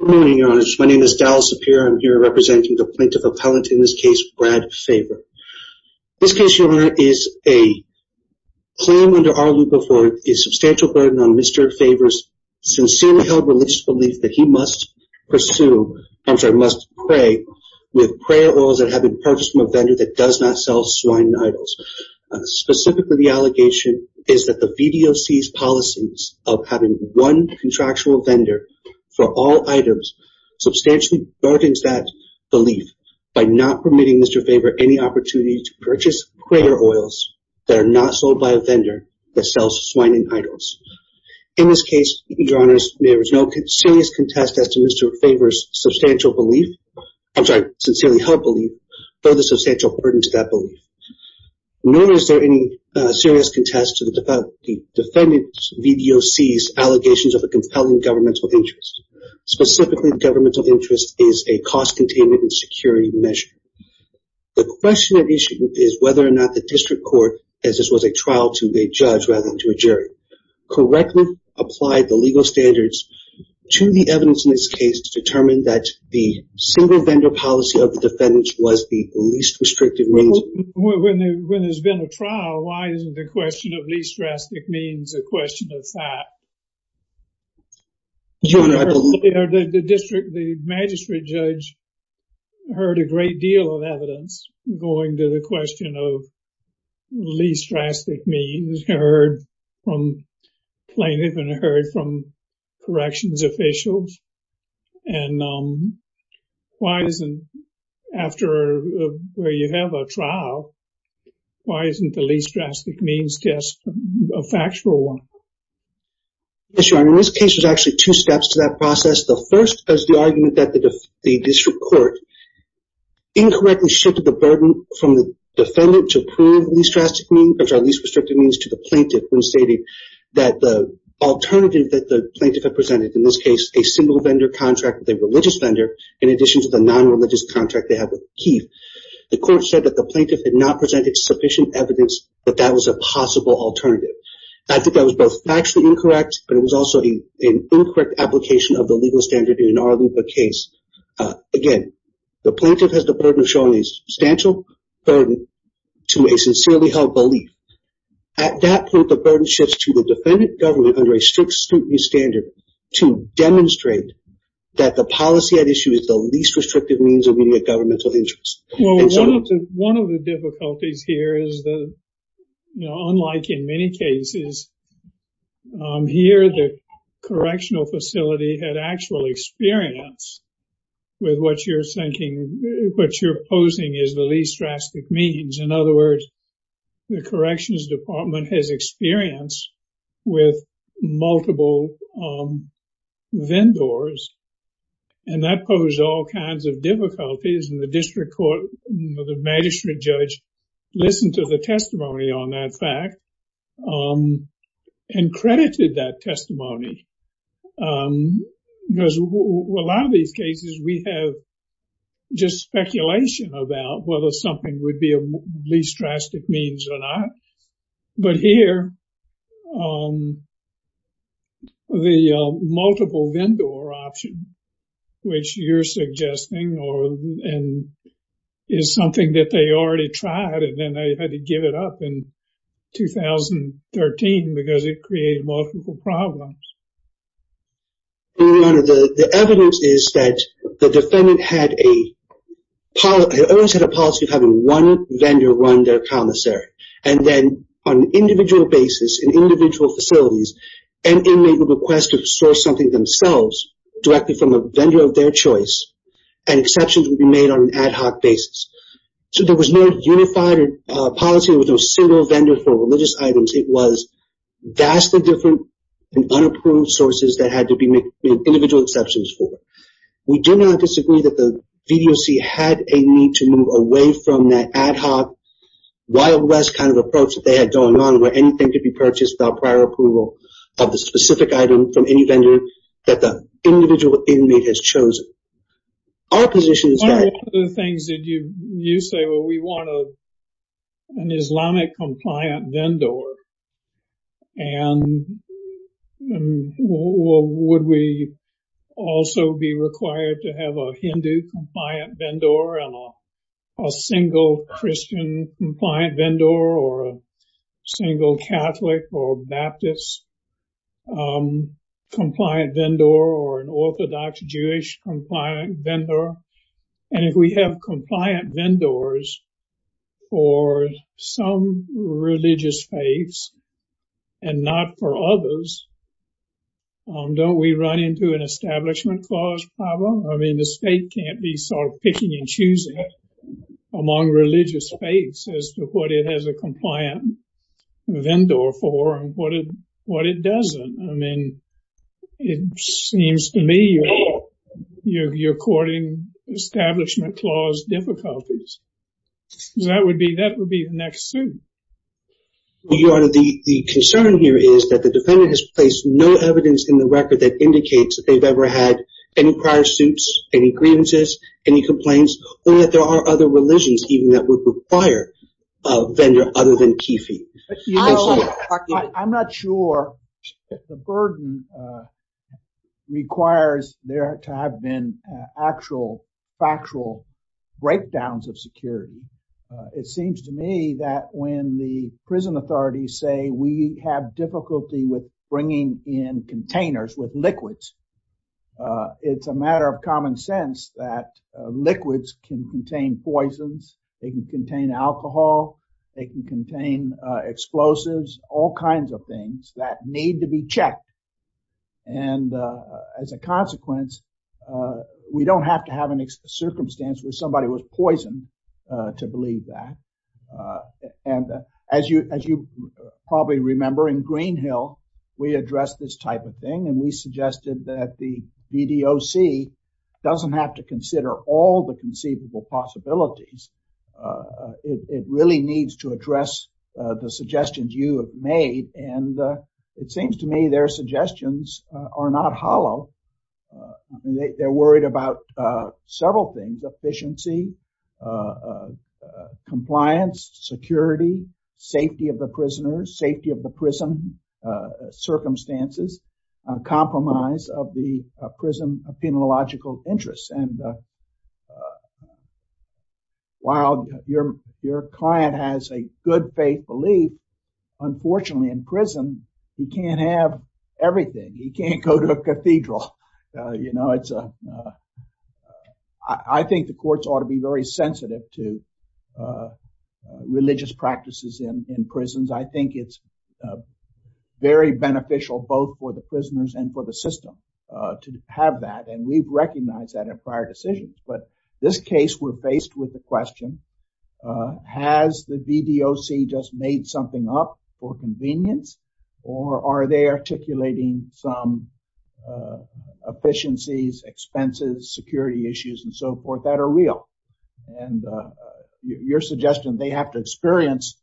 Good morning, Your Honor. My name is Daryl Sapir. I'm here representing the Plaintiff Appellant, in this case, Brad Favre. This case, Your Honor, is a claim under our looper for a substantial burden on Mr. Favre's sincerely held religious belief that he must pursue, I'm sorry, must pray, with prayer oils that have been purchased from a vendor that does not sell swine idols. Specifically, the allegation is that the VDOC's policies of having one contractual vendor for all items substantially burdens that belief by not permitting Mr. Favre any opportunity to purchase prayer oils that are not sold by a vendor that sells swine idols. In this case, Your Honor, there is no serious contest as to Mr. Favre's substantial belief, I'm sorry, sincerely held belief, for the substantial burden to that belief. Nor is there any serious contest to the defendant's VDOC's allegations of a compelling governmental interest. Specifically, the governmental interest is a cost containment and security measure. The question at issue is whether or not the district court, as this was a trial to a judge rather than to a jury, correctly applied the legal standards to the evidence in this case to determine that the single vendor policy of the defendant was the least restrictive means. When there's been a trial, why isn't the question of least drastic means a question of fact? The district, the magistrate judge heard a great deal of evidence going to the question of least drastic means heard from plaintiff and heard from corrections officials. And why isn't, after where you have a trial, why isn't the least drastic means just a factual one? Yes, Your Honor, in this case, there's actually two steps to that process. The first is the argument that the district court incorrectly shifted the burden from the defendant to prove least drastic means, which are least restrictive means, to the plaintiff when stating that the alternative that the plaintiff had presented, in this case, a single vendor contract with a religious vendor, in addition to the non-religious contract they had with Keith, the court said that the plaintiff had not presented sufficient evidence that that was a possible alternative. I think that was both factually incorrect, but it was also an incorrect application of the legal standard in our case. Again, the plaintiff has the burden of showing a substantial burden to a sincerely held belief. At that point, the burden shifts to the defendant government under a strict standard to demonstrate that the policy at issue is the least restrictive means of meeting a governmental interest. Well, one of the difficulties here is that, you know, unlike in many cases, here the correctional facility had actual experience with what you're thinking, what you're opposing is the least drastic means. In other words, the corrections department has experience with multiple vendors, and that posed all kinds of difficulties. And the district court, the magistrate judge, listened to the testimony on that fact and credited that testimony. Because a lot of these cases, we have just speculation about whether something would be a least drastic means or not. But here, the multiple vendor option, which you're suggesting is something that they already tried, and then they had to give it up in 2013 because it created multiple problems. Your Honor, the evidence is that the defendant had a policy of having one vendor run their commissary. And then on an individual basis in individual facilities, an inmate would request to source something themselves directly from a vendor of their choice, and exceptions would be made on an ad hoc basis. So there was no unified policy, there was no single vendor for religious items. It was vastly different and unapproved sources that had to be made individual exceptions for. We do not disagree that the VDOC had a need to move away from that ad hoc, wild west kind of approach that they had going on where anything could be purchased without prior approval of the specific item from any vendor that the individual inmate has chosen. Our position is that... And if we have compliant vendors for some religious faiths, and not for others, don't we run into an establishment clause problem? I mean, the state can't be sort of picking and choosing among religious faiths as to what it has a compliant vendor for and what it doesn't. I mean, it seems to me you're courting establishment clause difficulties. So that would be the next suit. Your Honor, the concern here is that the defendant has placed no evidence in the record that indicates that they've ever had any prior suits, any grievances, any complaints, or that there are other religions even that would require a vendor other than kifi. I'm not sure the burden requires there to have been actual factual breakdowns of security. It seems to me that when the prison authorities say we have difficulty with bringing in containers with liquids, it's a matter of common sense that liquids can contain poisons, they can contain alcohol, they can contain explosives, all kinds of things that need to be checked. And as a consequence, we don't have to have any circumstance where somebody was poisoned to believe that. And as you probably remember, in Greenhill, we addressed this type of thing, and we suggested that the BDOC doesn't have to consider all the conceivable possibilities. It really needs to address the suggestions you have made. And it seems to me their suggestions are not hollow. They're worried about several things, efficiency, compliance, security, safety of the prisoners, safety of the prison, circumstances, compromise of the prison, a phenological interest. While your client has a good faith belief, unfortunately, in prison, he can't have everything. He can't go to a cathedral. I think the courts ought to be very sensitive to religious practices in prisons. I think it's very beneficial both for the prisoners and for the system to have that. And we've recognized that in prior decisions. But in this case, we're faced with the question, has the BDOC just made something up for convenience, or are they articulating some efficiencies, expenses, security issues, and so forth that are real? And your suggestion, they have to experience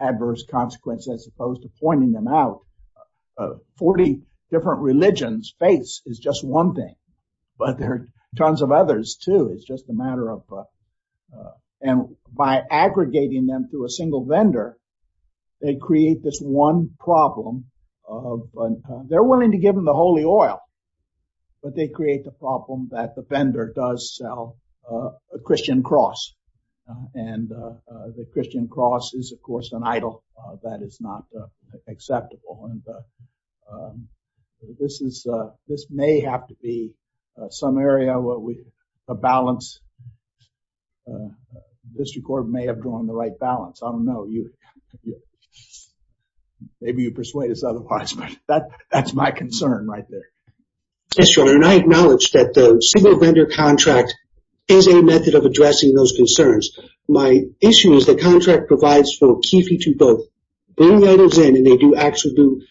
adverse consequences as opposed to pointing them out. 40 different religions, faiths is just one thing, but there are tons of others, too. It's just a matter of, and by aggregating them through a single vendor, they create this one problem. They're willing to give them the holy oil, but they create the problem that the vendor does sell a Christian cross. And the Christian cross is, of course, an idol that is not acceptable. And this may have to be some area where the district court may have drawn the right balance. I don't know. Maybe you persuade us otherwise, but that's my concern right there. Yes, Your Honor, and I acknowledge that the single vendor contract is a method of addressing those concerns. My issue is the contract provides for a key feature both bringing items in, and they do actually do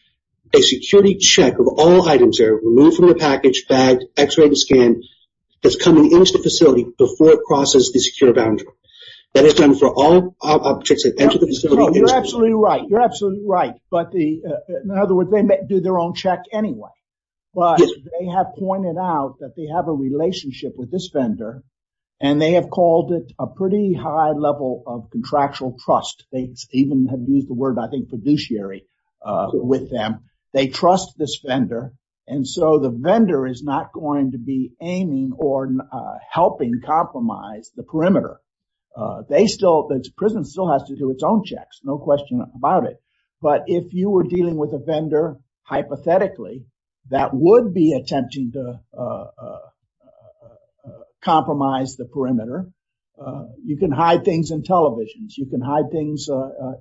a security check of all items there, removed from the package, bagged, x-rayed and scanned, that's coming into the facility before it crosses the secure boundary. That is done for all objects that enter the facility. You're absolutely right. You're absolutely right. But in other words, they do their own check anyway. But they have pointed out that they have a relationship with this vendor, and they have called it a pretty high level of contractual trust. They even have used the word, I think, fiduciary with them. They trust this vendor. And so the vendor is not going to be aiming or helping compromise the perimeter. The prison still has to do its own checks, no question about it. But if you were dealing with a vendor, hypothetically, that would be attempting to compromise the perimeter. You can hide things in televisions. You can hide things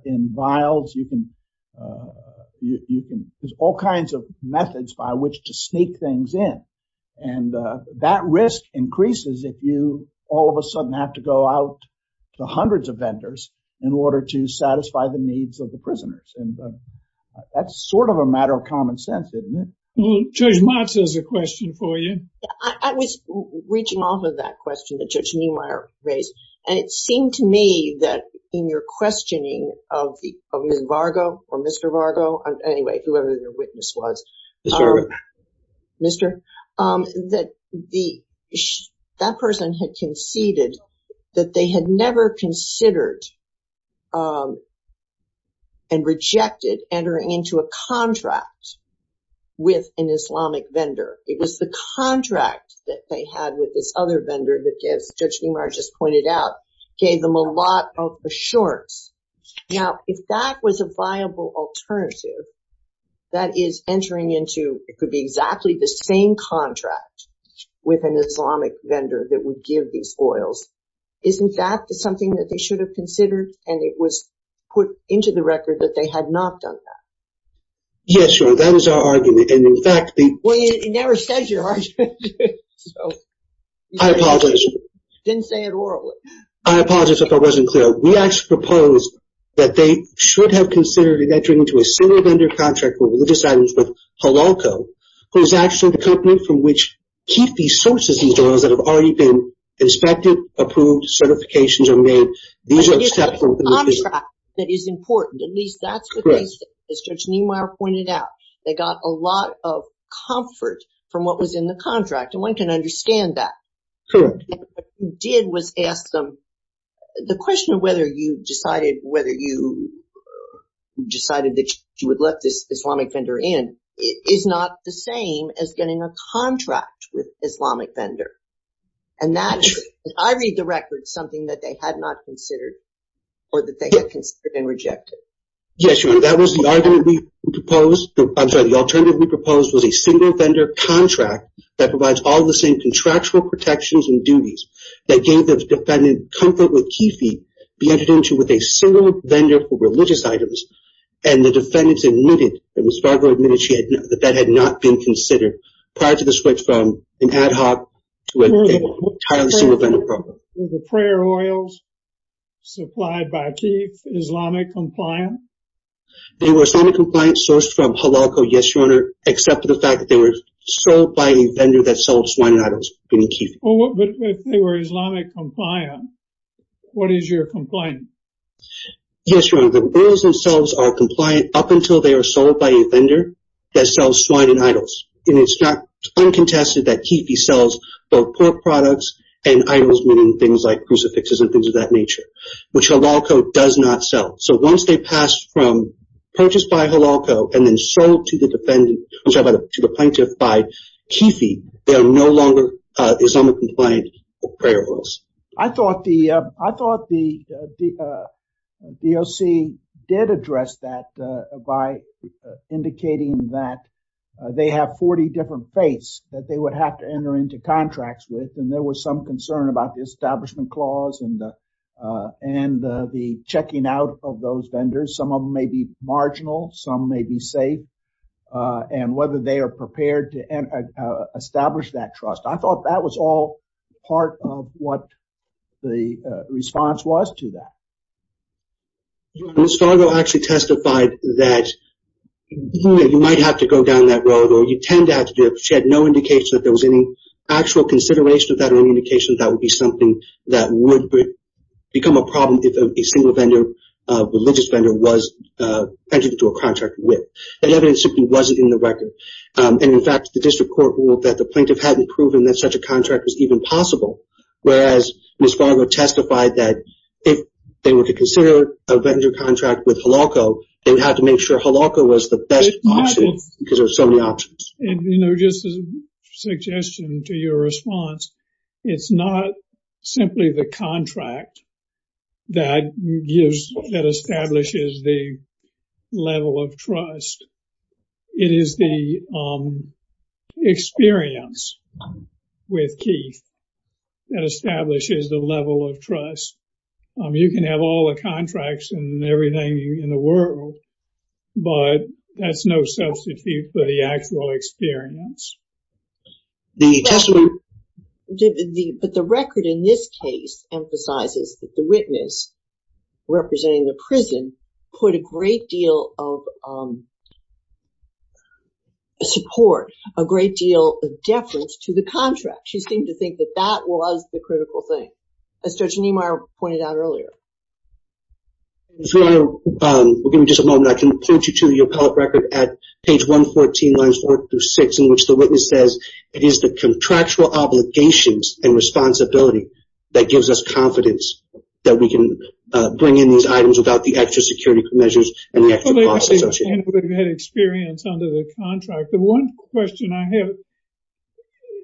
in vials. There's all kinds of methods by which to sneak things in. And that risk increases if you all of a sudden have to go out to hundreds of vendors in order to satisfy the needs of the prisoners. And that's sort of a matter of common sense, isn't it? Well, Judge Motz has a question for you. I was reaching off of that question that Judge Neumeier raised. And it seemed to me that in your questioning of Ms. Vargo, or Mr. Vargo, anyway, whoever the witness was. Mr. Vargo. It was the contract that they had with this other vendor that, as Judge Neumeier just pointed out, gave them a lot of assurance. Now, if that was a viable alternative, that is entering into, it could be exactly the same contract with an Islamic vendor that would give these oils. Isn't that something that they should have considered? And it was put into the record that they had not done that. Yes, Your Honor. That is our argument. And in fact, the... Well, you never said your argument. I apologize. You didn't say it orally. I apologize if I wasn't clear. We actually proposed that they should have considered entering into a similar vendor contract for religious items with Hololco, who is actually the company from which Kiffey sources these oils that have already been inspected, approved, certifications are made. But it's the contract that is important. At least that's what they said. As Judge Neumeier pointed out, they got a lot of comfort from what was in the contract, and one can understand that. Correct. And what you did was ask them, the question of whether you decided that you would let this Islamic vendor in is not the same as getting a contract with Islamic vendor. And that is, I read the record, something that they had not considered or that they had considered and rejected. Yes, Your Honor. That was the argument we proposed. I'm sorry. The alternative we proposed was a single vendor contract that provides all the same contractual protections and duties that gave the defendant comfort with Kiffey being entered into with a single vendor for religious items. And the defendants admitted, Ms. Fargo admitted that that had not been considered prior to the switch from an ad hoc to an entirely single vendor program. Were the prayer oils supplied by Kiffey Islamic compliant? They were Islamic compliant sourced from Halalko, yes, Your Honor, except for the fact that they were sold by a vendor that sells swine and idols, meaning Kiffey. But if they were Islamic compliant, what is your complaint? Yes, Your Honor. The oils themselves are compliant up until they are sold by a vendor that sells swine and idols. And it's not uncontested that Kiffey sells both pork products and idols, meaning things like crucifixes and things of that nature, which Halalko does not sell. So once they pass from purchase by Halalko and then sold to the plaintiff by Kiffey, they are no longer Islamic compliant prayer oils. I thought the DOC did address that by indicating that they have 40 different faiths that they would have to enter into contracts with. And there was some concern about the establishment clause and the checking out of those vendors. Some of them may be marginal. Some may be safe. And whether they are prepared to establish that trust. I thought that was all part of what the response was to that. Ms. Fargo actually testified that you might have to go down that road or you tend to have to do it. She had no indication that there was any actual consideration of that or any indication that that would be something that would become a problem if a single vendor, a religious vendor, was entered into a contract with. The evidence simply wasn't in the record. And in fact, the district court ruled that the plaintiff hadn't proven that such a contract was even possible. Whereas Ms. Fargo testified that if they were to consider a vendor contract with Halalko, they would have to make sure Halalko was the best option because there are so many options. You know, just a suggestion to your response. It's not simply the contract that establishes the level of trust. It is the experience with Keith that establishes the level of trust. You can have all the contracts and everything in the world, but that's no substitute for the actual experience. But the record in this case emphasizes that the witness representing the prison put a great deal of support, a great deal of deference to the contract. She seemed to think that that was the critical thing, as Judge Niemeyer pointed out earlier. Ms. Fargo, we'll give you just a moment. I can point you to the appellate record at page 114, lines 4 through 6, in which the witness says, it is the contractual obligations and responsibility that gives us confidence that we can bring in these items without the extra security measures and the extra costs associated. And we've had experience under the contract. The one question I have,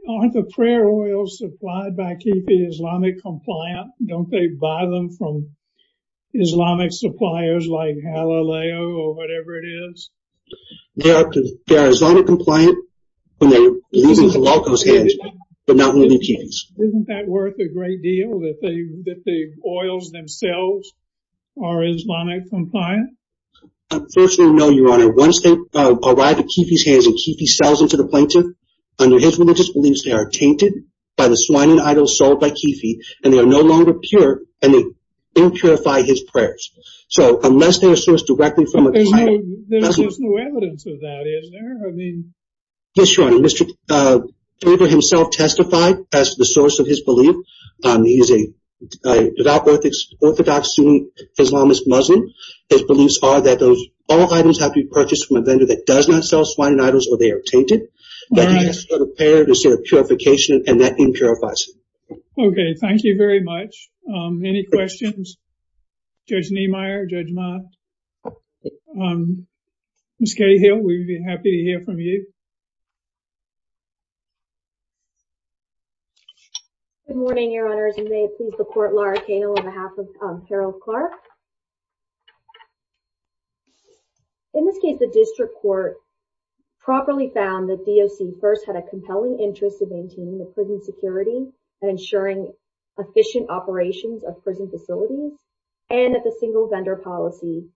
aren't the prayer oils supplied by KIPI Islamic compliant? Don't they buy them from Islamic suppliers like Halaleo or whatever it is? They are Islamic compliant when they leave in Halalko's hands, but not with the KIPIs. Isn't that worth a great deal that the oils themselves are Islamic compliant? Unfortunately, no, Your Honor. Once they arrive at KIPI's hands and KIPI sells them to the plaintiff, under his religious beliefs, they are tainted by the swine and idols sold by KIPI, and they are no longer pure, and they don't purify his prayers. So unless they are sourced directly from a client... But there's no evidence of that, is there? Yes, Your Honor. Mr. Tabor himself testified as the source of his belief. He's a devout orthodox Muslim. His beliefs are that all items have to be purchased from a vendor that does not sell swine and idols, or they are tainted. That he has to go to prayer to seek purification, and that thing purifies him. Okay, thank you very much. Any questions? Judge Niemeyer, Judge Mott? Ms. Cahill, we'd be happy to hear from you. Good morning, Your Honors, and may it please the Court, Laura Cahill on behalf of Harold Clark. In this case, the district court properly found that DOC first had a compelling interest in maintaining the prison security and ensuring efficient operations of prison facilities, and that the single vendor policy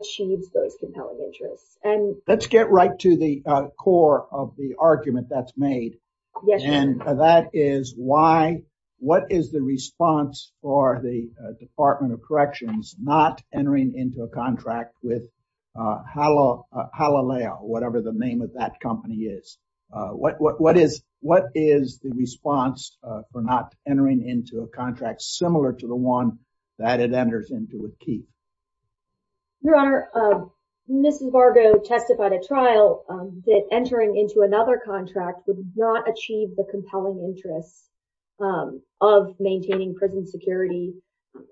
achieves those compelling interests. Let's get right to the core of the argument that's made. Yes, Your Honor. And that is, what is the response for the Department of Corrections not entering into a contract with Halaleo, whatever the name of that company is? What is the response for not entering into a contract similar to the one that it enters into with Keith? Your Honor, Mrs. Vargo testified at trial that entering into another contract would not achieve the compelling interests of maintaining prison security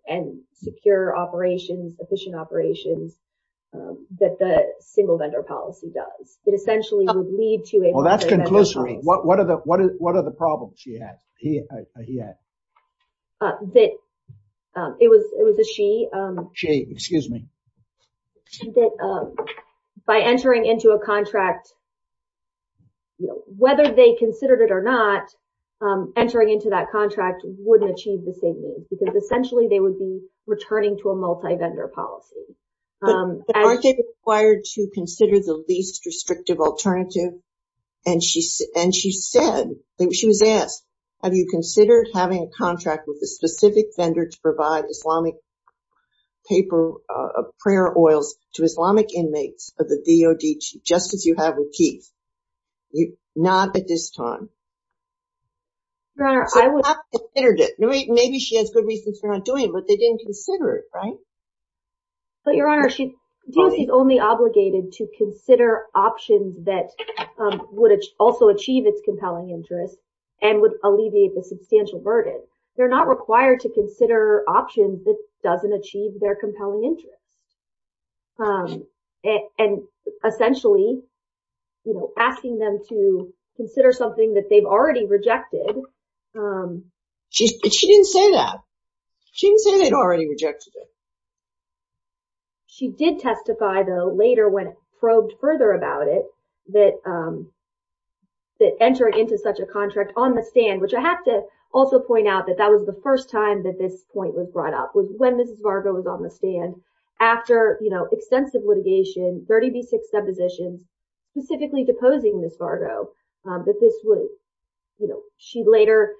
and secure operations, efficient operations, that the single vendor policy does. It essentially would lead to a… Well, that's conclusive. What are the problems she had, he had? That it was a she. She, excuse me. That by entering into a contract, whether they considered it or not, entering into that contract wouldn't achieve the same needs, because essentially they would be returning to a multi-vendor policy. But aren't they required to consider the least restrictive alternative? And she said, she was asked, have you considered having a contract with a specific vendor to provide Islamic paper, prayer oils to Islamic inmates of the DOD, just as you have with Keith? Not at this time. Your Honor, I would… So have they considered it? Maybe she has good reasons for not doing it, but they didn't consider it, right? But, Your Honor, DOC is only obligated to consider options that would also achieve its compelling interests and would alleviate the substantial burden. They're not required to consider options that doesn't achieve their compelling interests. And essentially, you know, asking them to consider something that they've already rejected. She didn't say that. She didn't say they'd already rejected it. She did testify, though, later when probed further about it, that entering into such a contract on the stand, which I have to also point out that that was the first time that this point was brought up, was when Mrs. Vargo was on the stand after, you know, extensive litigation, 30B6 depositions, specifically deposing Mrs. Vargo, that this would, you know, she later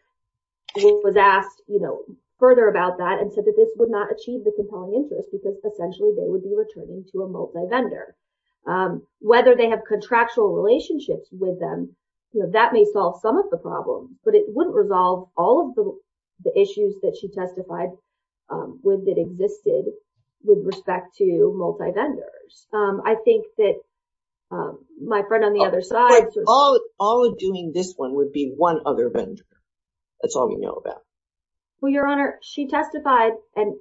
was asked, you know, further about that and said that this would not achieve the compelling interest because essentially they would be returning to a multivendor. Whether they have contractual relationships with them, you know, that may solve some of the problem, but it wouldn't resolve all of the issues that she testified with that existed with respect to multivendors. I think that my friend on the other side… All of doing this one would be one other vendor. That's all we know about. Well, Your Honor, she testified and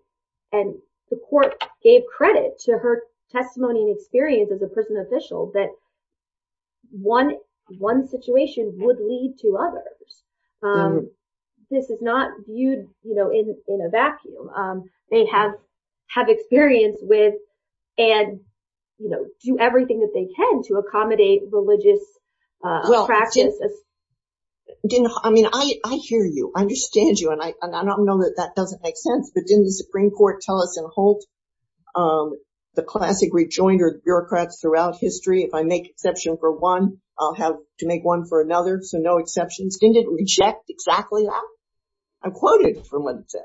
the court gave credit to her testimony and experience as a prison official that one situation would lead to others. This is not viewed, you know, in a vacuum. They have experience with and, you know, do everything that they can to accommodate religious practices. I mean, I hear you. I understand you. And I don't know that that doesn't make sense. But didn't the Supreme Court tell us in Holt, the classic rejoinder bureaucrats throughout history, if I make exception for one, I'll have to make one for another. So no exceptions. Didn't it reject exactly that? I'm quoted from what it said.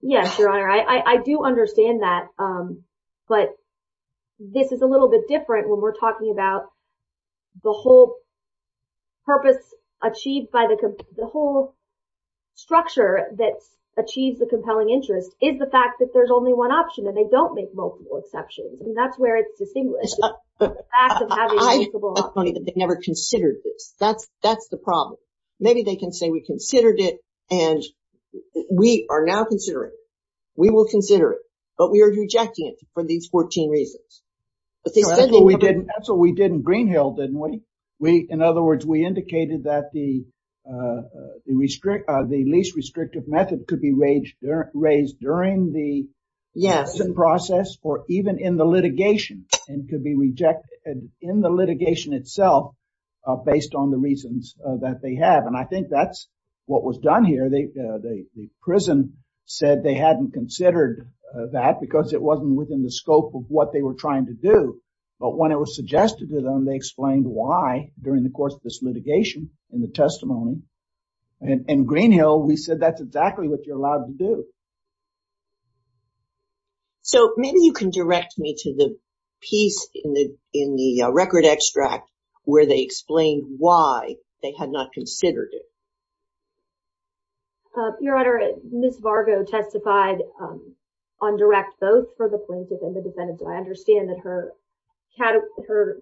Yes, Your Honor. I do understand that. But this is a little bit different when we're talking about the whole purpose achieved by the… The whole structure that achieves the compelling interest is the fact that there's only one option and they don't make multiple exceptions. And that's where it's distinguished. It's funny that they never considered this. That's the problem. Maybe they can say we considered it and we are now considering it. We will consider it, but we are rejecting it for these 14 reasons. That's what we did in Greenhill, didn't we? In other words, we indicated that the least restrictive method could be raised during the process or even in the litigation and could be rejected in the litigation itself based on the reasons that they have. And I think that's what was done here. The prison said they hadn't considered that because it wasn't within the scope of what they were trying to do. But when it was suggested to them, they explained why during the course of this litigation and the testimony. In Greenhill, we said that's exactly what you're allowed to do. So maybe you can direct me to the piece in the record extract where they explained why they had not considered it. Your Honor, Ms. Vargo testified on direct vote for the plaintiff and the defendant. I understand that her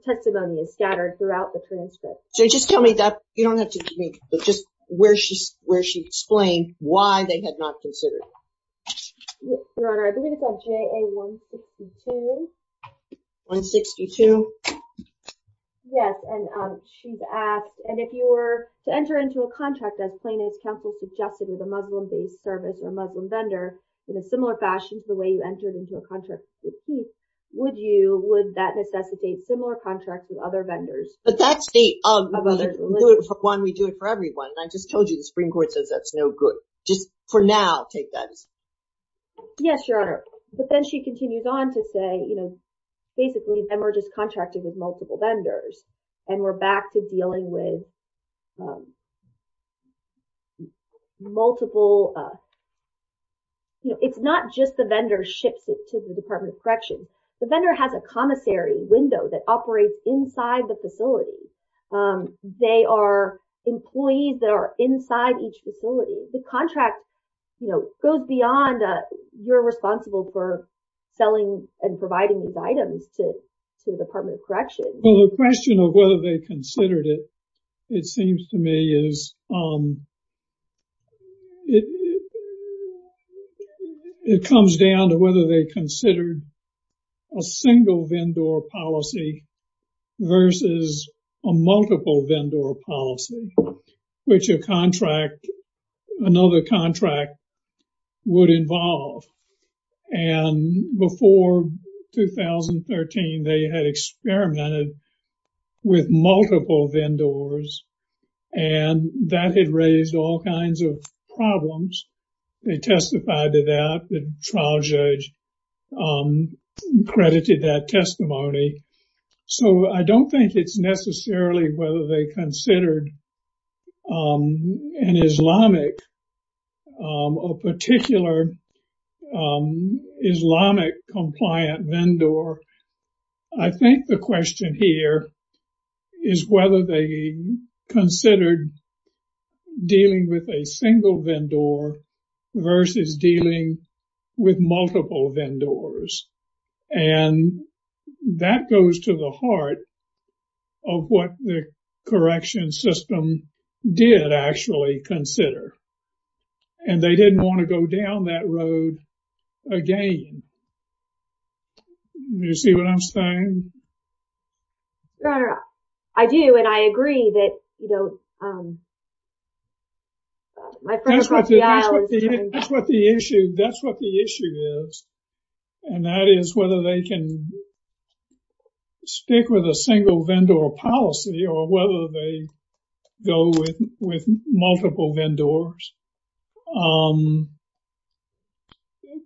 testimony is scattered throughout the transcript. So just tell me where she explained why they had not considered it. Your Honor, I believe it's on JA-162. 162? Yes, and she's asked, and if you were to enter into a contract as plaintiff's counsel suggested with a Muslim-based service or Muslim vendor in a similar fashion to the way you entered into a contract with Keith, would that necessitate similar contracts with other vendors? But that's the other one. We do it for everyone. I just told you the Supreme Court says that's no good. Just for now, take that as— Yes, Your Honor. But then she continues on to say, you know, basically then we're just contracted with multiple vendors and we're back to dealing with multiple— you know, it's not just the vendor ships it to the Department of Corrections. The vendor has a commissary window that operates inside the facility. They are employees that are inside each facility. The contract, you know, goes beyond you're responsible for selling and providing these items to the Department of Corrections. Well, the question of whether they considered it, it seems to me, is— it comes down to whether they considered a single vendor policy versus a multiple vendor policy, which a contract, another contract, would involve. And before 2013, they had experimented with multiple vendors. And that had raised all kinds of problems. They testified to that. The trial judge credited that testimony. So I don't think it's necessarily whether they considered an Islamic, a particular Islamic compliant vendor. I think the question here is whether they considered dealing with a single vendor versus dealing with multiple vendors. And that goes to the heart of what the corrections system did actually consider. And they didn't want to go down that road again. Do you see what I'm saying? Your Honor, I do. And I agree that, you know— That's what the issue is. And that is whether they can stick with a single vendor policy or whether they go with multiple vendors.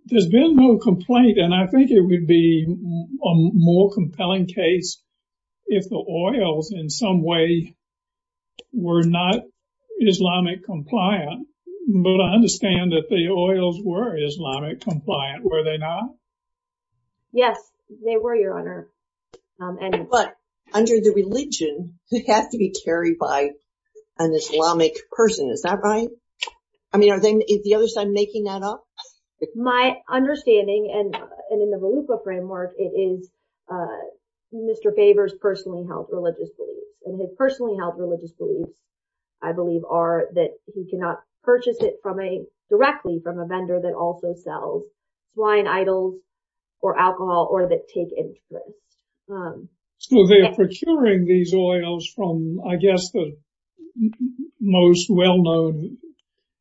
There's been no complaint. And I think it would be a more compelling case if the oils, in some way, were not Islamic compliant. But I understand that the oils were Islamic compliant, were they not? Yes, they were, Your Honor. But under the religion, it has to be carried by an Islamic person. Is that right? I mean, are they—is the other side making that up? My understanding, and in the Volupa framework, it is Mr. Faber's personally held religious beliefs. And his personally held religious beliefs, I believe, are that he cannot purchase it directly from a vendor that also sells blind idols or alcohol or that take interest. So they are procuring these oils from, I guess, the most well-known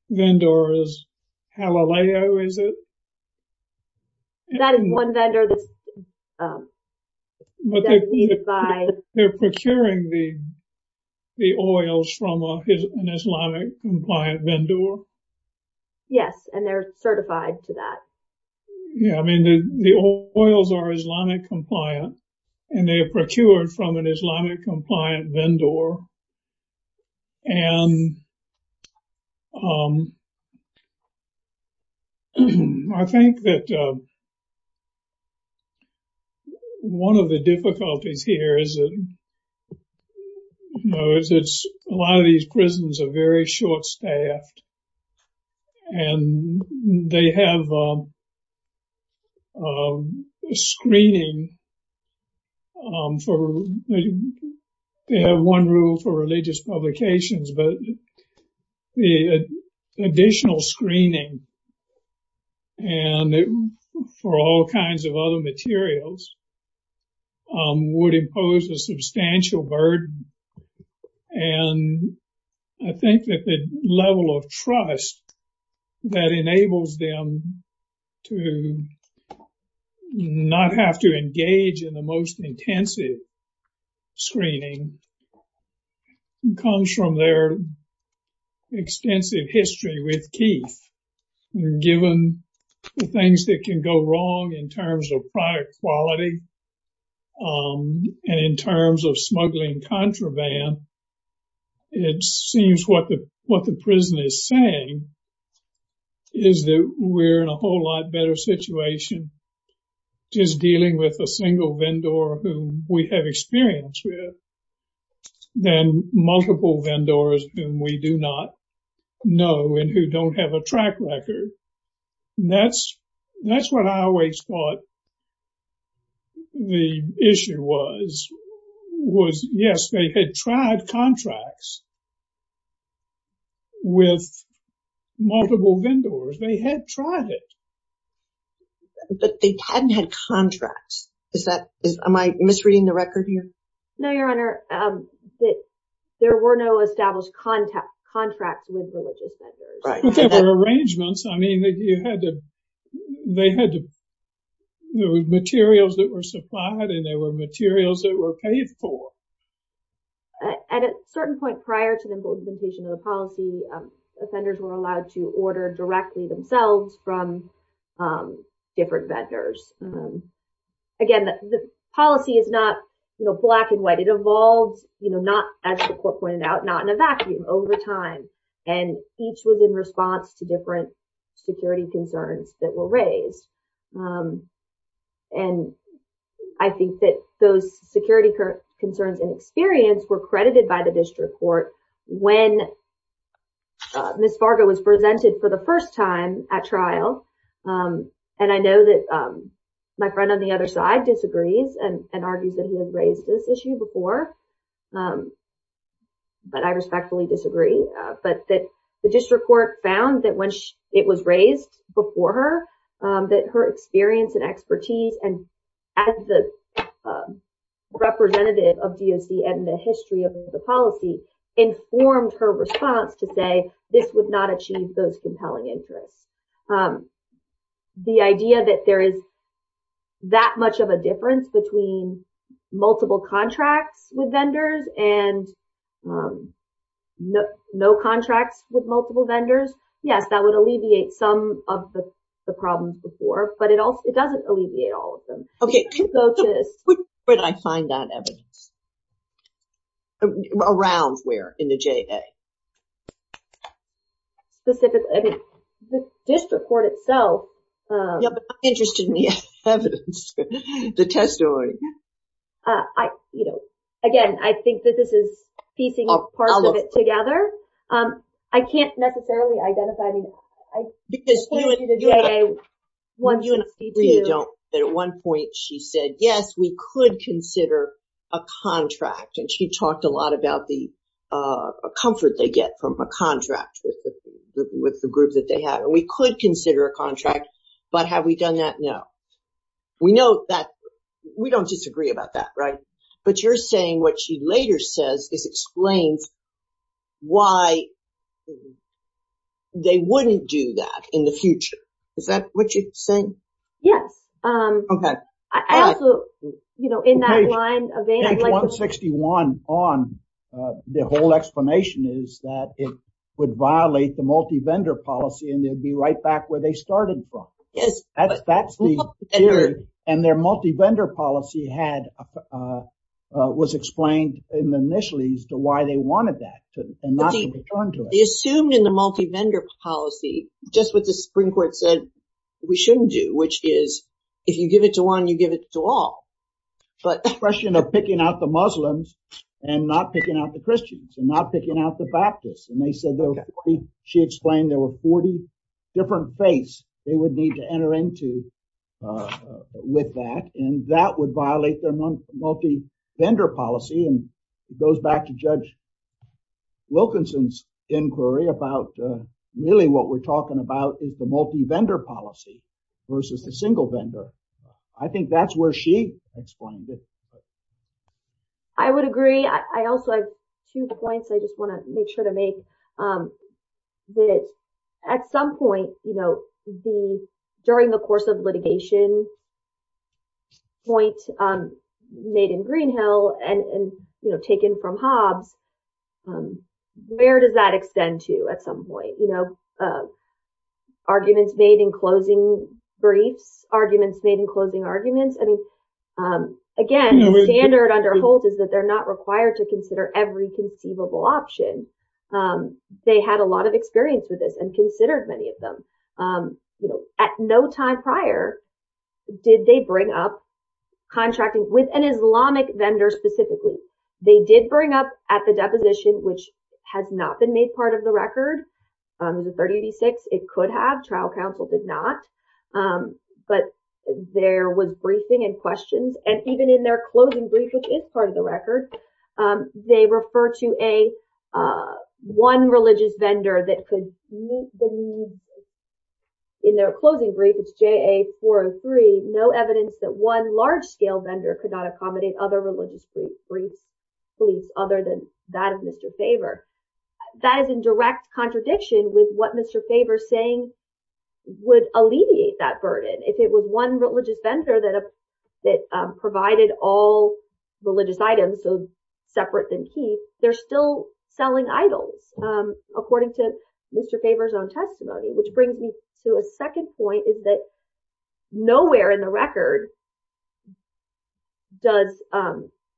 vendor is Halaleo, is it? That is one vendor that's— But they're procuring the oils from an Islamic compliant vendor? Yes, and they're certified to that. Yeah, I mean, the oils are Islamic compliant, and they are procured from an Islamic compliant vendor. And I think that one of the difficulties here is that a lot of these prisons are very short-staffed. And they have screening for—they have one rule for religious publications, but the additional screening for all kinds of other materials would impose a substantial burden. And I think that the level of trust that enables them to not have to engage in the most intensive screening comes from their extensive history with Keith. Given the things that can go wrong in terms of product quality and in terms of smuggling contraband, it seems what the prison is saying is that we're in a whole lot better situation just dealing with a single vendor who we have experience with than multiple vendors whom we do not know and who don't have a track record. That's what I always thought the issue was, was, yes, they had tried contracts with multiple vendors. They had tried it. But they hadn't had contracts. Is that—am I misreading the record here? No, Your Honor. There were no established contracts with religious vendors. But there were arrangements. I mean, you had to—they had materials that were supplied, and there were materials that were paid for. At a certain point prior to the implementation of the policy, offenders were allowed to order directly themselves from different vendors. Again, the policy is not black and white. It evolved not, as the court pointed out, not in a vacuum over time. And each was in response to different security concerns that were raised. And I think that those security concerns and experience were credited by the district court when Ms. Fargo was presented for the first time at trial. And I know that my friend on the other side disagrees and argues that he has raised this issue before, but I respectfully disagree. But the district court found that when it was raised before her, that her experience and expertise as the representative of DOC and the history of the policy informed her response to say this would not achieve those compelling interests. The idea that there is that much of a difference between multiple contracts with vendors and no contracts with multiple vendors, yes, that would alleviate some of the problems before, but it doesn't alleviate all of them. Okay. Where did I find that evidence? Around where? In the JA? Specifically, I mean, the district court itself. Yeah, but I'm interested in the evidence, the testimony. I, you know, again, I think that this is piecing parts of it together. I can't necessarily identify. Because you and I agree that at one point she said, yes, we could consider a contract. And she talked a lot about the comfort they get from a contract with the group that they have. And we could consider a contract. But have we done that? No. We know that we don't disagree about that. Right. But you're saying what she later says is explains why they wouldn't do that in the future. Is that what you're saying? Yes. Okay. I also, you know, in that line of. Page 161 on the whole explanation is that it would violate the multi-vendor policy and they'd be right back where they started from. Yes. And their multi-vendor policy had was explained initially as to why they wanted that. Assumed in the multi-vendor policy, just what the Supreme Court said we shouldn't do, which is if you give it to one, you give it to all. But the question of picking out the Muslims and not picking out the Christians and not picking out the Baptist. And they said she explained there were 40 different faiths they would need to enter into with that. And that would violate their multi-vendor policy and goes back to Judge Wilkinson's inquiry about really what we're talking about is the multi-vendor policy versus the single vendor. I think that's where she explained it. I would agree. I also have two points I just want to make sure to make that at some point, you know, during the course of litigation. Point made in Greenhill and taken from Hobbs. Where does that extend to at some point? You know, arguments made in closing briefs, arguments made in closing arguments. I mean, again, the standard under Holt is that they're not required to consider every conceivable option. They had a lot of experience with this and considered many of them at no time prior. Did they bring up contracting with an Islamic vendor specifically? They did bring up at the deposition, which has not been made part of the record. The 3086, it could have. Trial counsel did not. But there was briefing and questions. And even in their closing brief, which is part of the record, they refer to a one religious vendor that could meet the need. In their closing brief, it's J.A. 403. No evidence that one large scale vendor could not accommodate other religious briefs. Other than that of Mr. Faber, that is in direct contradiction with what Mr. Faber saying would alleviate that burden if it was one religious vendor that that provided all religious items. So separate than he they're still selling idols, according to Mr. Faber's own testimony, which brings me to a second point is that nowhere in the record. Does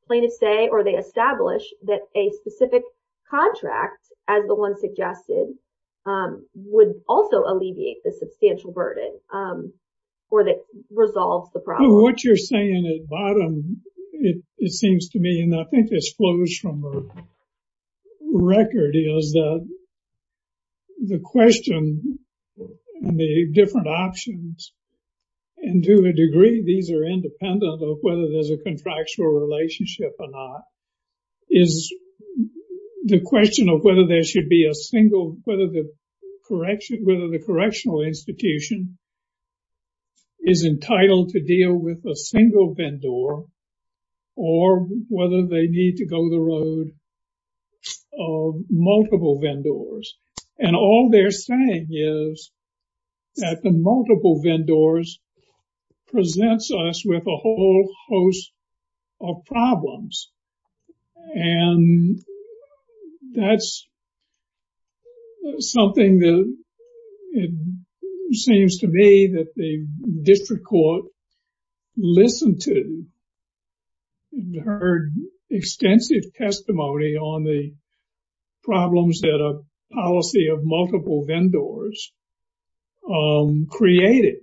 plaintiff say or they establish that a specific contract, as the one suggested, would also alleviate the substantial burden or that resolves the problem? What you're saying at bottom, it seems to me, and I think this flows from the record, is that the question and the different options and to a degree, these are independent of whether there's a contractual relationship or not, is the question of whether there should be a single, whether the correction, whether the correctional institution is entitled to deal with a single vendor or whether they need to go the road of multiple vendors. And all they're saying is that the multiple vendors presents us with a whole host of problems. And that's something that it seems to me that the district court listened to, heard extensive testimony on the problems that a policy of multiple vendors created.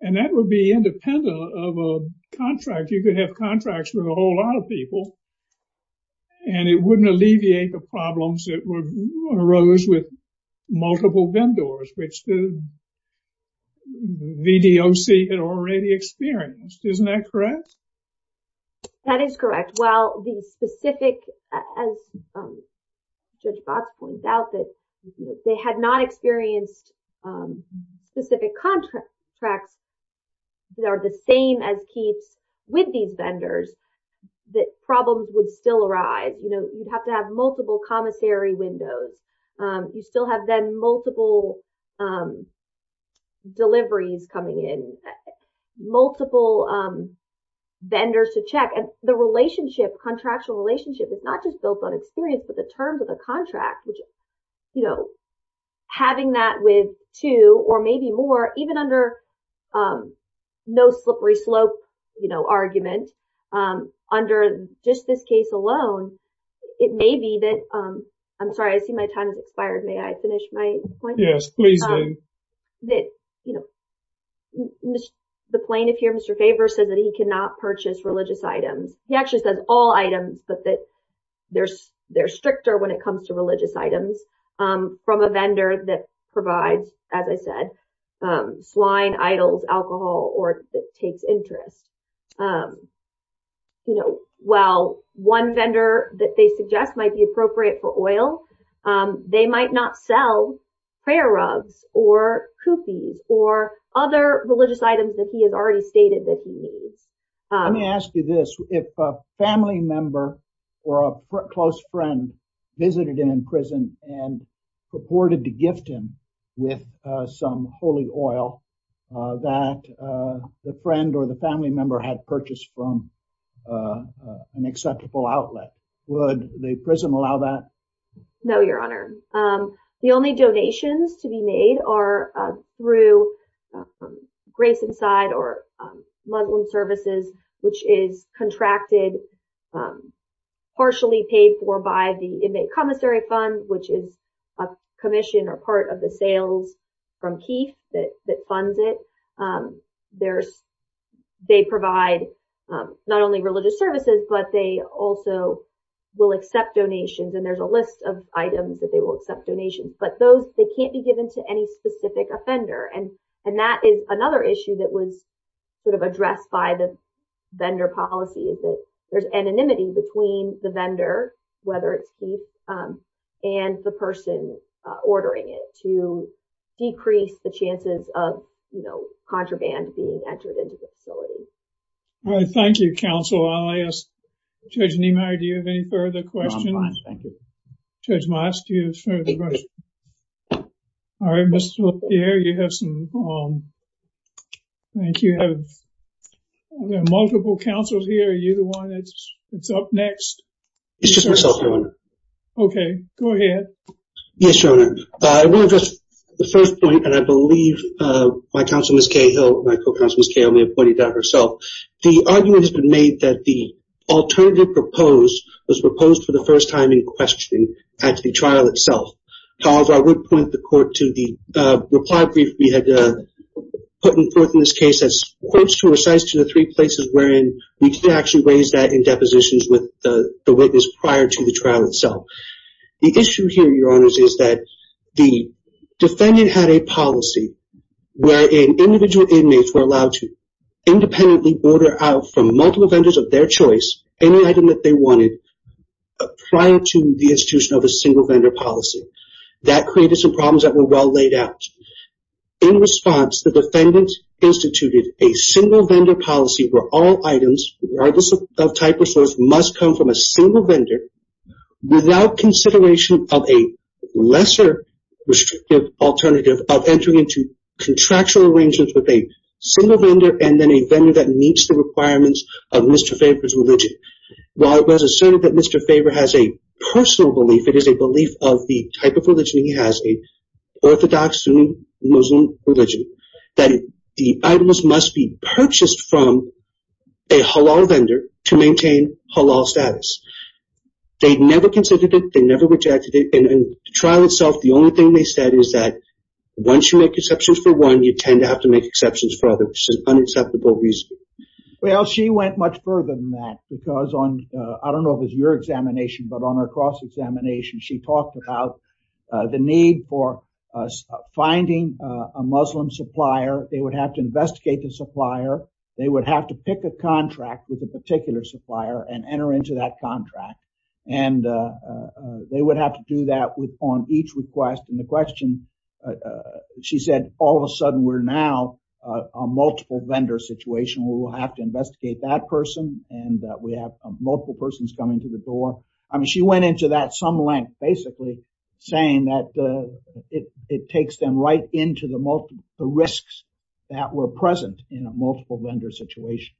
And that would be independent of a contract. You could have contracts with a whole lot of people. And it wouldn't alleviate the problems that arose with multiple vendors, which the VDOC had already experienced. Isn't that correct? That is correct. And while the specific, as Judge Box points out, that they had not experienced specific contracts that are the same as Keith's with these vendors, that problems would still arise. You'd have to have multiple commissary windows. You still have then multiple deliveries coming in, multiple vendors to check. And the relationship, contractual relationship is not just built on experience, but the terms of the contract, which, you know, having that with two or maybe more, even under no slippery slope, you know, argument, under just this case alone, it may be that I'm sorry, I see my time has expired. May I finish my point? Yes, please do. The plaintiff here, Mr. Faber, said that he cannot purchase religious items. He actually says all items, but that they're stricter when it comes to religious items from a vendor that provides, as I said, swine, idols, alcohol or that takes interest. You know, well, one vendor that they suggest might be appropriate for oil. They might not sell prayer rugs or cookies or other religious items that he has already stated that he needs. Let me ask you this. If a family member or a close friend visited him in prison and purported to gift him with some holy oil that the friend or the family member had purchased from an acceptable outlet, would the prison allow that? No, Your Honor. The only donations to be made are through Grace Inside or Muslim Services, which is contracted, partially paid for by the Inmate Commissary Fund, which is a commission or part of the sales from Keith that funds it. They provide not only religious services, but they also will accept donations. And there's a list of items that they will accept donations, but they can't be given to any specific offender. And that is another issue that was sort of addressed by the vendor policy is that there's anonymity between the vendor, whether it's Keith and the person ordering it to decrease the chances of, you know, contraband being entered into the facility. All right. Thank you, Counsel. I'll ask Judge Niemeyer, do you have any further questions? No, I'm fine. Thank you. Judge Moss, do you have further questions? All right, Mr. LaPierre, you have some. Thank you. There are multiple counsels here. Are you the one that's up next? It's just myself, Your Honor. Okay, go ahead. Yes, Your Honor. I will address the first point, and I believe my counsel, Ms. Cahill, my co-counsel, Ms. Cahill, may have pointed that out herself. The argument has been made that the alternative proposed was proposed for the first time in question at the trial itself. However, I would point the court to the reply brief we had put forth in this case. It says, quotes to or cites to the three places wherein we did actually raise that in depositions with the witness prior to the trial itself. The issue here, Your Honors, is that the defendant had a policy wherein individual inmates were allowed to independently order out from multiple vendors of their choice any item that they wanted prior to the institution of a single-vendor policy. That created some problems that were well laid out. In response, the defendant instituted a single-vendor policy where all items regardless of type or source must come from a single vendor without consideration of a lesser restrictive alternative of entering into contractual arrangements with a single vendor and then a vendor that meets the requirements of Mr. Faber's religion. While it was asserted that Mr. Faber has a personal belief, it is a belief of the type of religion he has, an orthodox Sunni Muslim religion, that the items must be purchased from a halal vendor to maintain halal status. They never considered it. They never rejected it. In the trial itself, the only thing they said is that once you make exceptions for one, you tend to have to make exceptions for others for unacceptable reasons. Well, she went much further than that because on, I don't know if it's your examination, but on her cross-examination, she talked about the need for finding a Muslim supplier. They would have to investigate the supplier. They would have to pick a contract with a particular supplier and enter into that contract. And they would have to do that on each request. And the question she said, all of a sudden, we're now a multiple vendor situation. We will have to investigate that person. And we have multiple persons coming to the door. I mean, she went into that some length, basically saying that it takes them right into the risks that were present in a multiple vendor situation.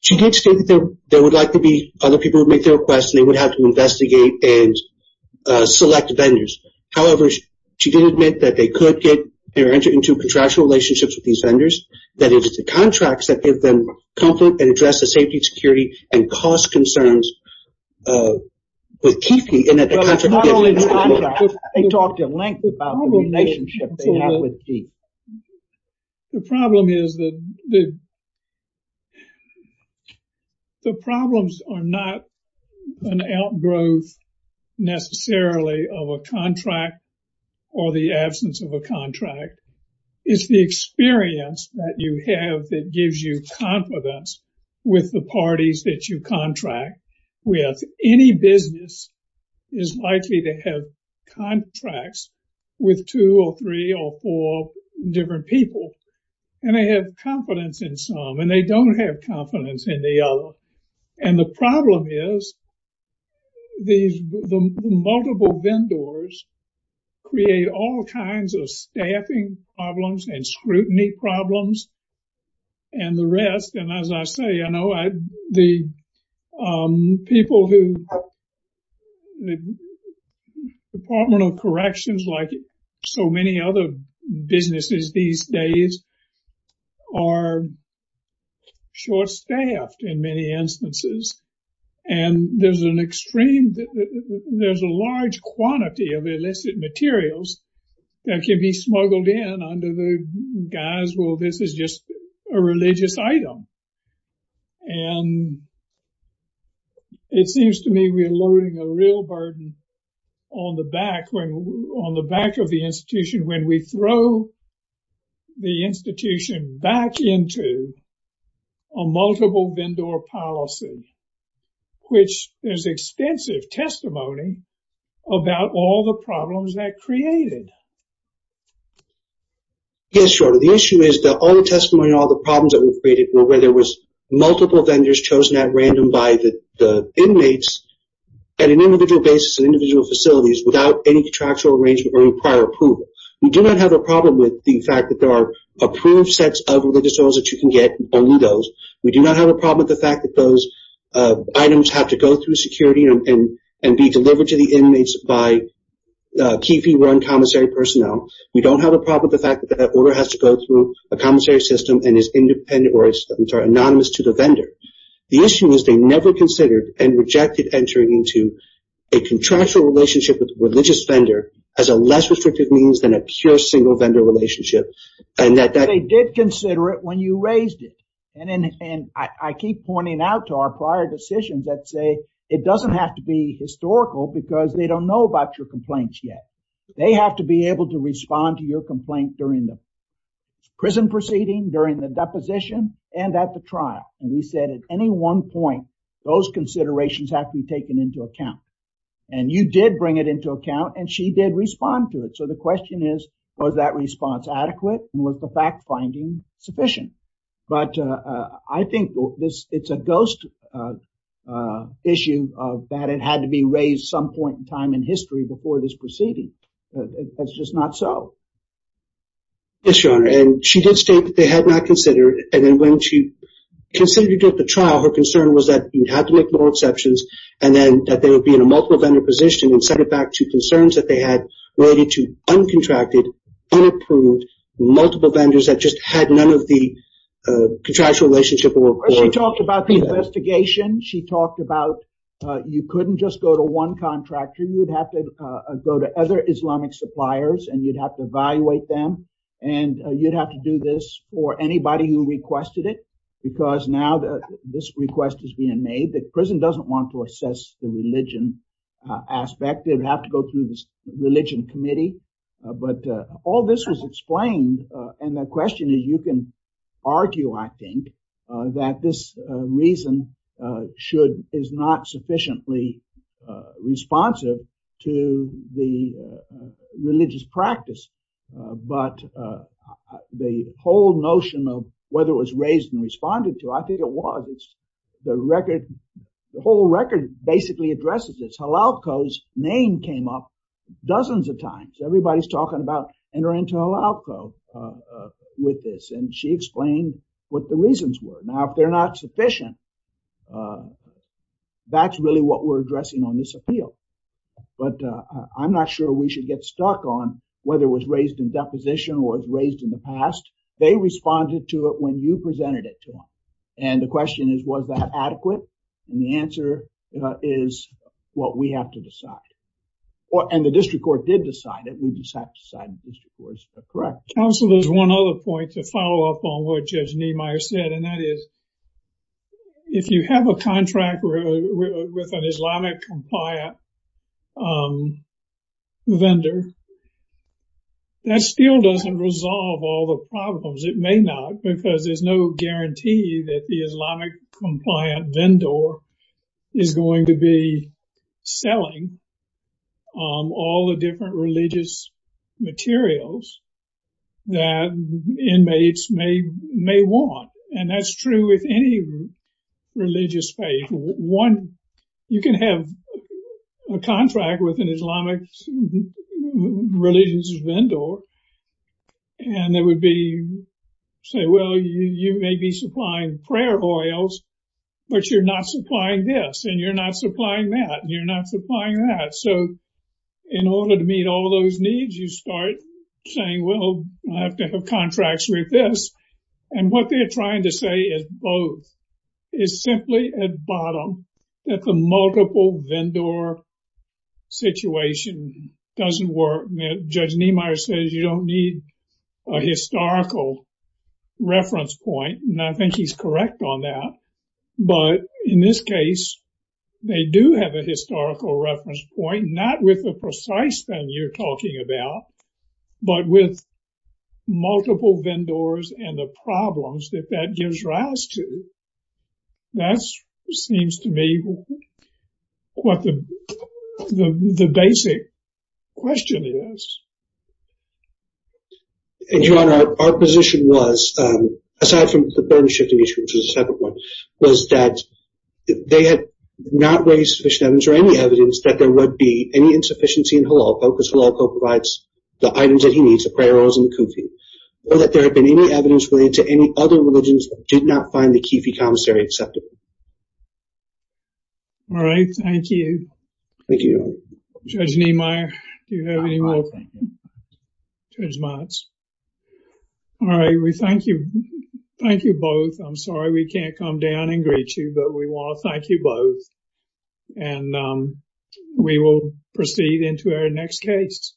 She did state that there would likely be other people who would make their requests, and they would have to investigate and select vendors. However, she did admit that they could get their entry into contractual relationships with these vendors, that it is the contracts that give them comfort and address the safety, security, and cost concerns with keeping in that contract. They talked in length about the relationship they have with D. The problem is that the problems are not an outgrowth necessarily of a contract or the absence of a contract. It's the experience that you have that gives you confidence with the parties that you contract with. Any business is likely to have contracts with two or three or four different people, and they have confidence in some, and they don't have confidence in the other. And the problem is the multiple vendors create all kinds of staffing problems and scrutiny problems and the rest. And as I say, I know the people who the Department of Corrections, like so many other businesses these days, are short-staffed in many instances. And there's a large quantity of illicit materials that can be smuggled in under the guise, well, this is just a religious item. And it seems to me we are loading a real burden on the back of the institution when we throw the institution back into a multiple vendor policy, which there's extensive testimony about all the problems that created. The issue is that all the testimony and all the problems that were created were where there was multiple vendors chosen at random by the inmates at an individual basis in individual facilities without any contractual arrangement or any prior approval. We do not have a problem with the fact that there are approved sets of religious items that you can get, only those. We do not have a problem with the fact that those items have to go through security and be delivered to the inmates by key fee-run commissary personnel. We don't have a problem with the fact that that order has to go through a commissary system and is anonymous to the vendor. The issue is they never considered and rejected entering into a contractual relationship with a religious vendor as a less restrictive means than a pure single-vendor relationship. They did consider it when you raised it. I keep pointing out to our prior decisions that say it doesn't have to be historical because they don't know about your complaints yet. They have to be able to respond to your complaint during the prison proceeding, during the deposition, and at the trial. We said at any one point, those considerations have to be taken into account. You did bring it into account and she did respond to it. The question is, was that response adequate and was the fact-finding sufficient? I think it's a ghost issue that it had to be raised some point in time in history before this proceeding. It's just not so. Yes, Your Honor. She did state that they had not considered. When she considered it at the trial, her concern was that you had to make more exceptions and that they would be in a multiple-vendor position and set it back to concerns that they had uncontracted, unapproved, multiple vendors that just had none of the contractual relationship. She talked about the investigation. She talked about you couldn't just go to one contractor. You'd have to go to other Islamic suppliers and you'd have to evaluate them. You'd have to do this for anybody who requested it because now this request is being made. The prison doesn't want to assess the religion aspect. They'd have to go through this religion committee. But all this was explained. And the question is, you can argue, I think, that this reason is not sufficiently responsive to the religious practice. But the whole notion of whether it was raised and responded to, I think it was. The record, the whole record basically addresses this. El Alco's name came up dozens of times. Everybody's talking about enter into El Alco with this. And she explained what the reasons were. Now, if they're not sufficient, that's really what we're addressing on this appeal. But I'm not sure we should get stuck on whether it was raised in deposition or was raised in the past. They responded to it when you presented it to them. And the question is, was that adequate? And the answer is, well, we have to decide. And the district court did decide it. We just have to decide the district court is correct. Counsel, there's one other point to follow up on what Judge Niemeyer said. And that is, if you have a contract with an Islamic compliant vendor, that still doesn't resolve all the problems. It may not, because there's no guarantee that the Islamic compliant vendor is going to be selling all the different religious materials that inmates may want. And that's true with any religious faith. You can have a contract with an Islamic religious vendor. And they would say, well, you may be supplying prayer oils, but you're not supplying this. And you're not supplying that. You're not supplying that. So in order to meet all those needs, you start saying, well, I have to have contracts with this. And what they're trying to say is both. It's simply at bottom that the multiple vendor situation doesn't work. Judge Niemeyer says you don't need a historical reference point. And I think he's correct on that. But in this case, they do have a historical reference point, not with the precise thing you're talking about, but with multiple vendors and the problems that that gives rise to. That seems to me what the basic question is. Your Honor, our position was, aside from the burden shifting issue, which is a separate one, was that they had not raised sufficient evidence or any evidence that there would be any insufficiency in Halalco, because Halalco provides the items that he needs, the prayer oils and the kufi, or that there had been any evidence related to any other religions that did not find the kifi commissary acceptable. All right. Thank you. Thank you, Your Honor. Judge Niemeyer, do you have any more? Judge Motz. All right. We thank you. Thank you both. I'm sorry we can't come down and greet you, but we want to thank you both. And we will proceed into our next case.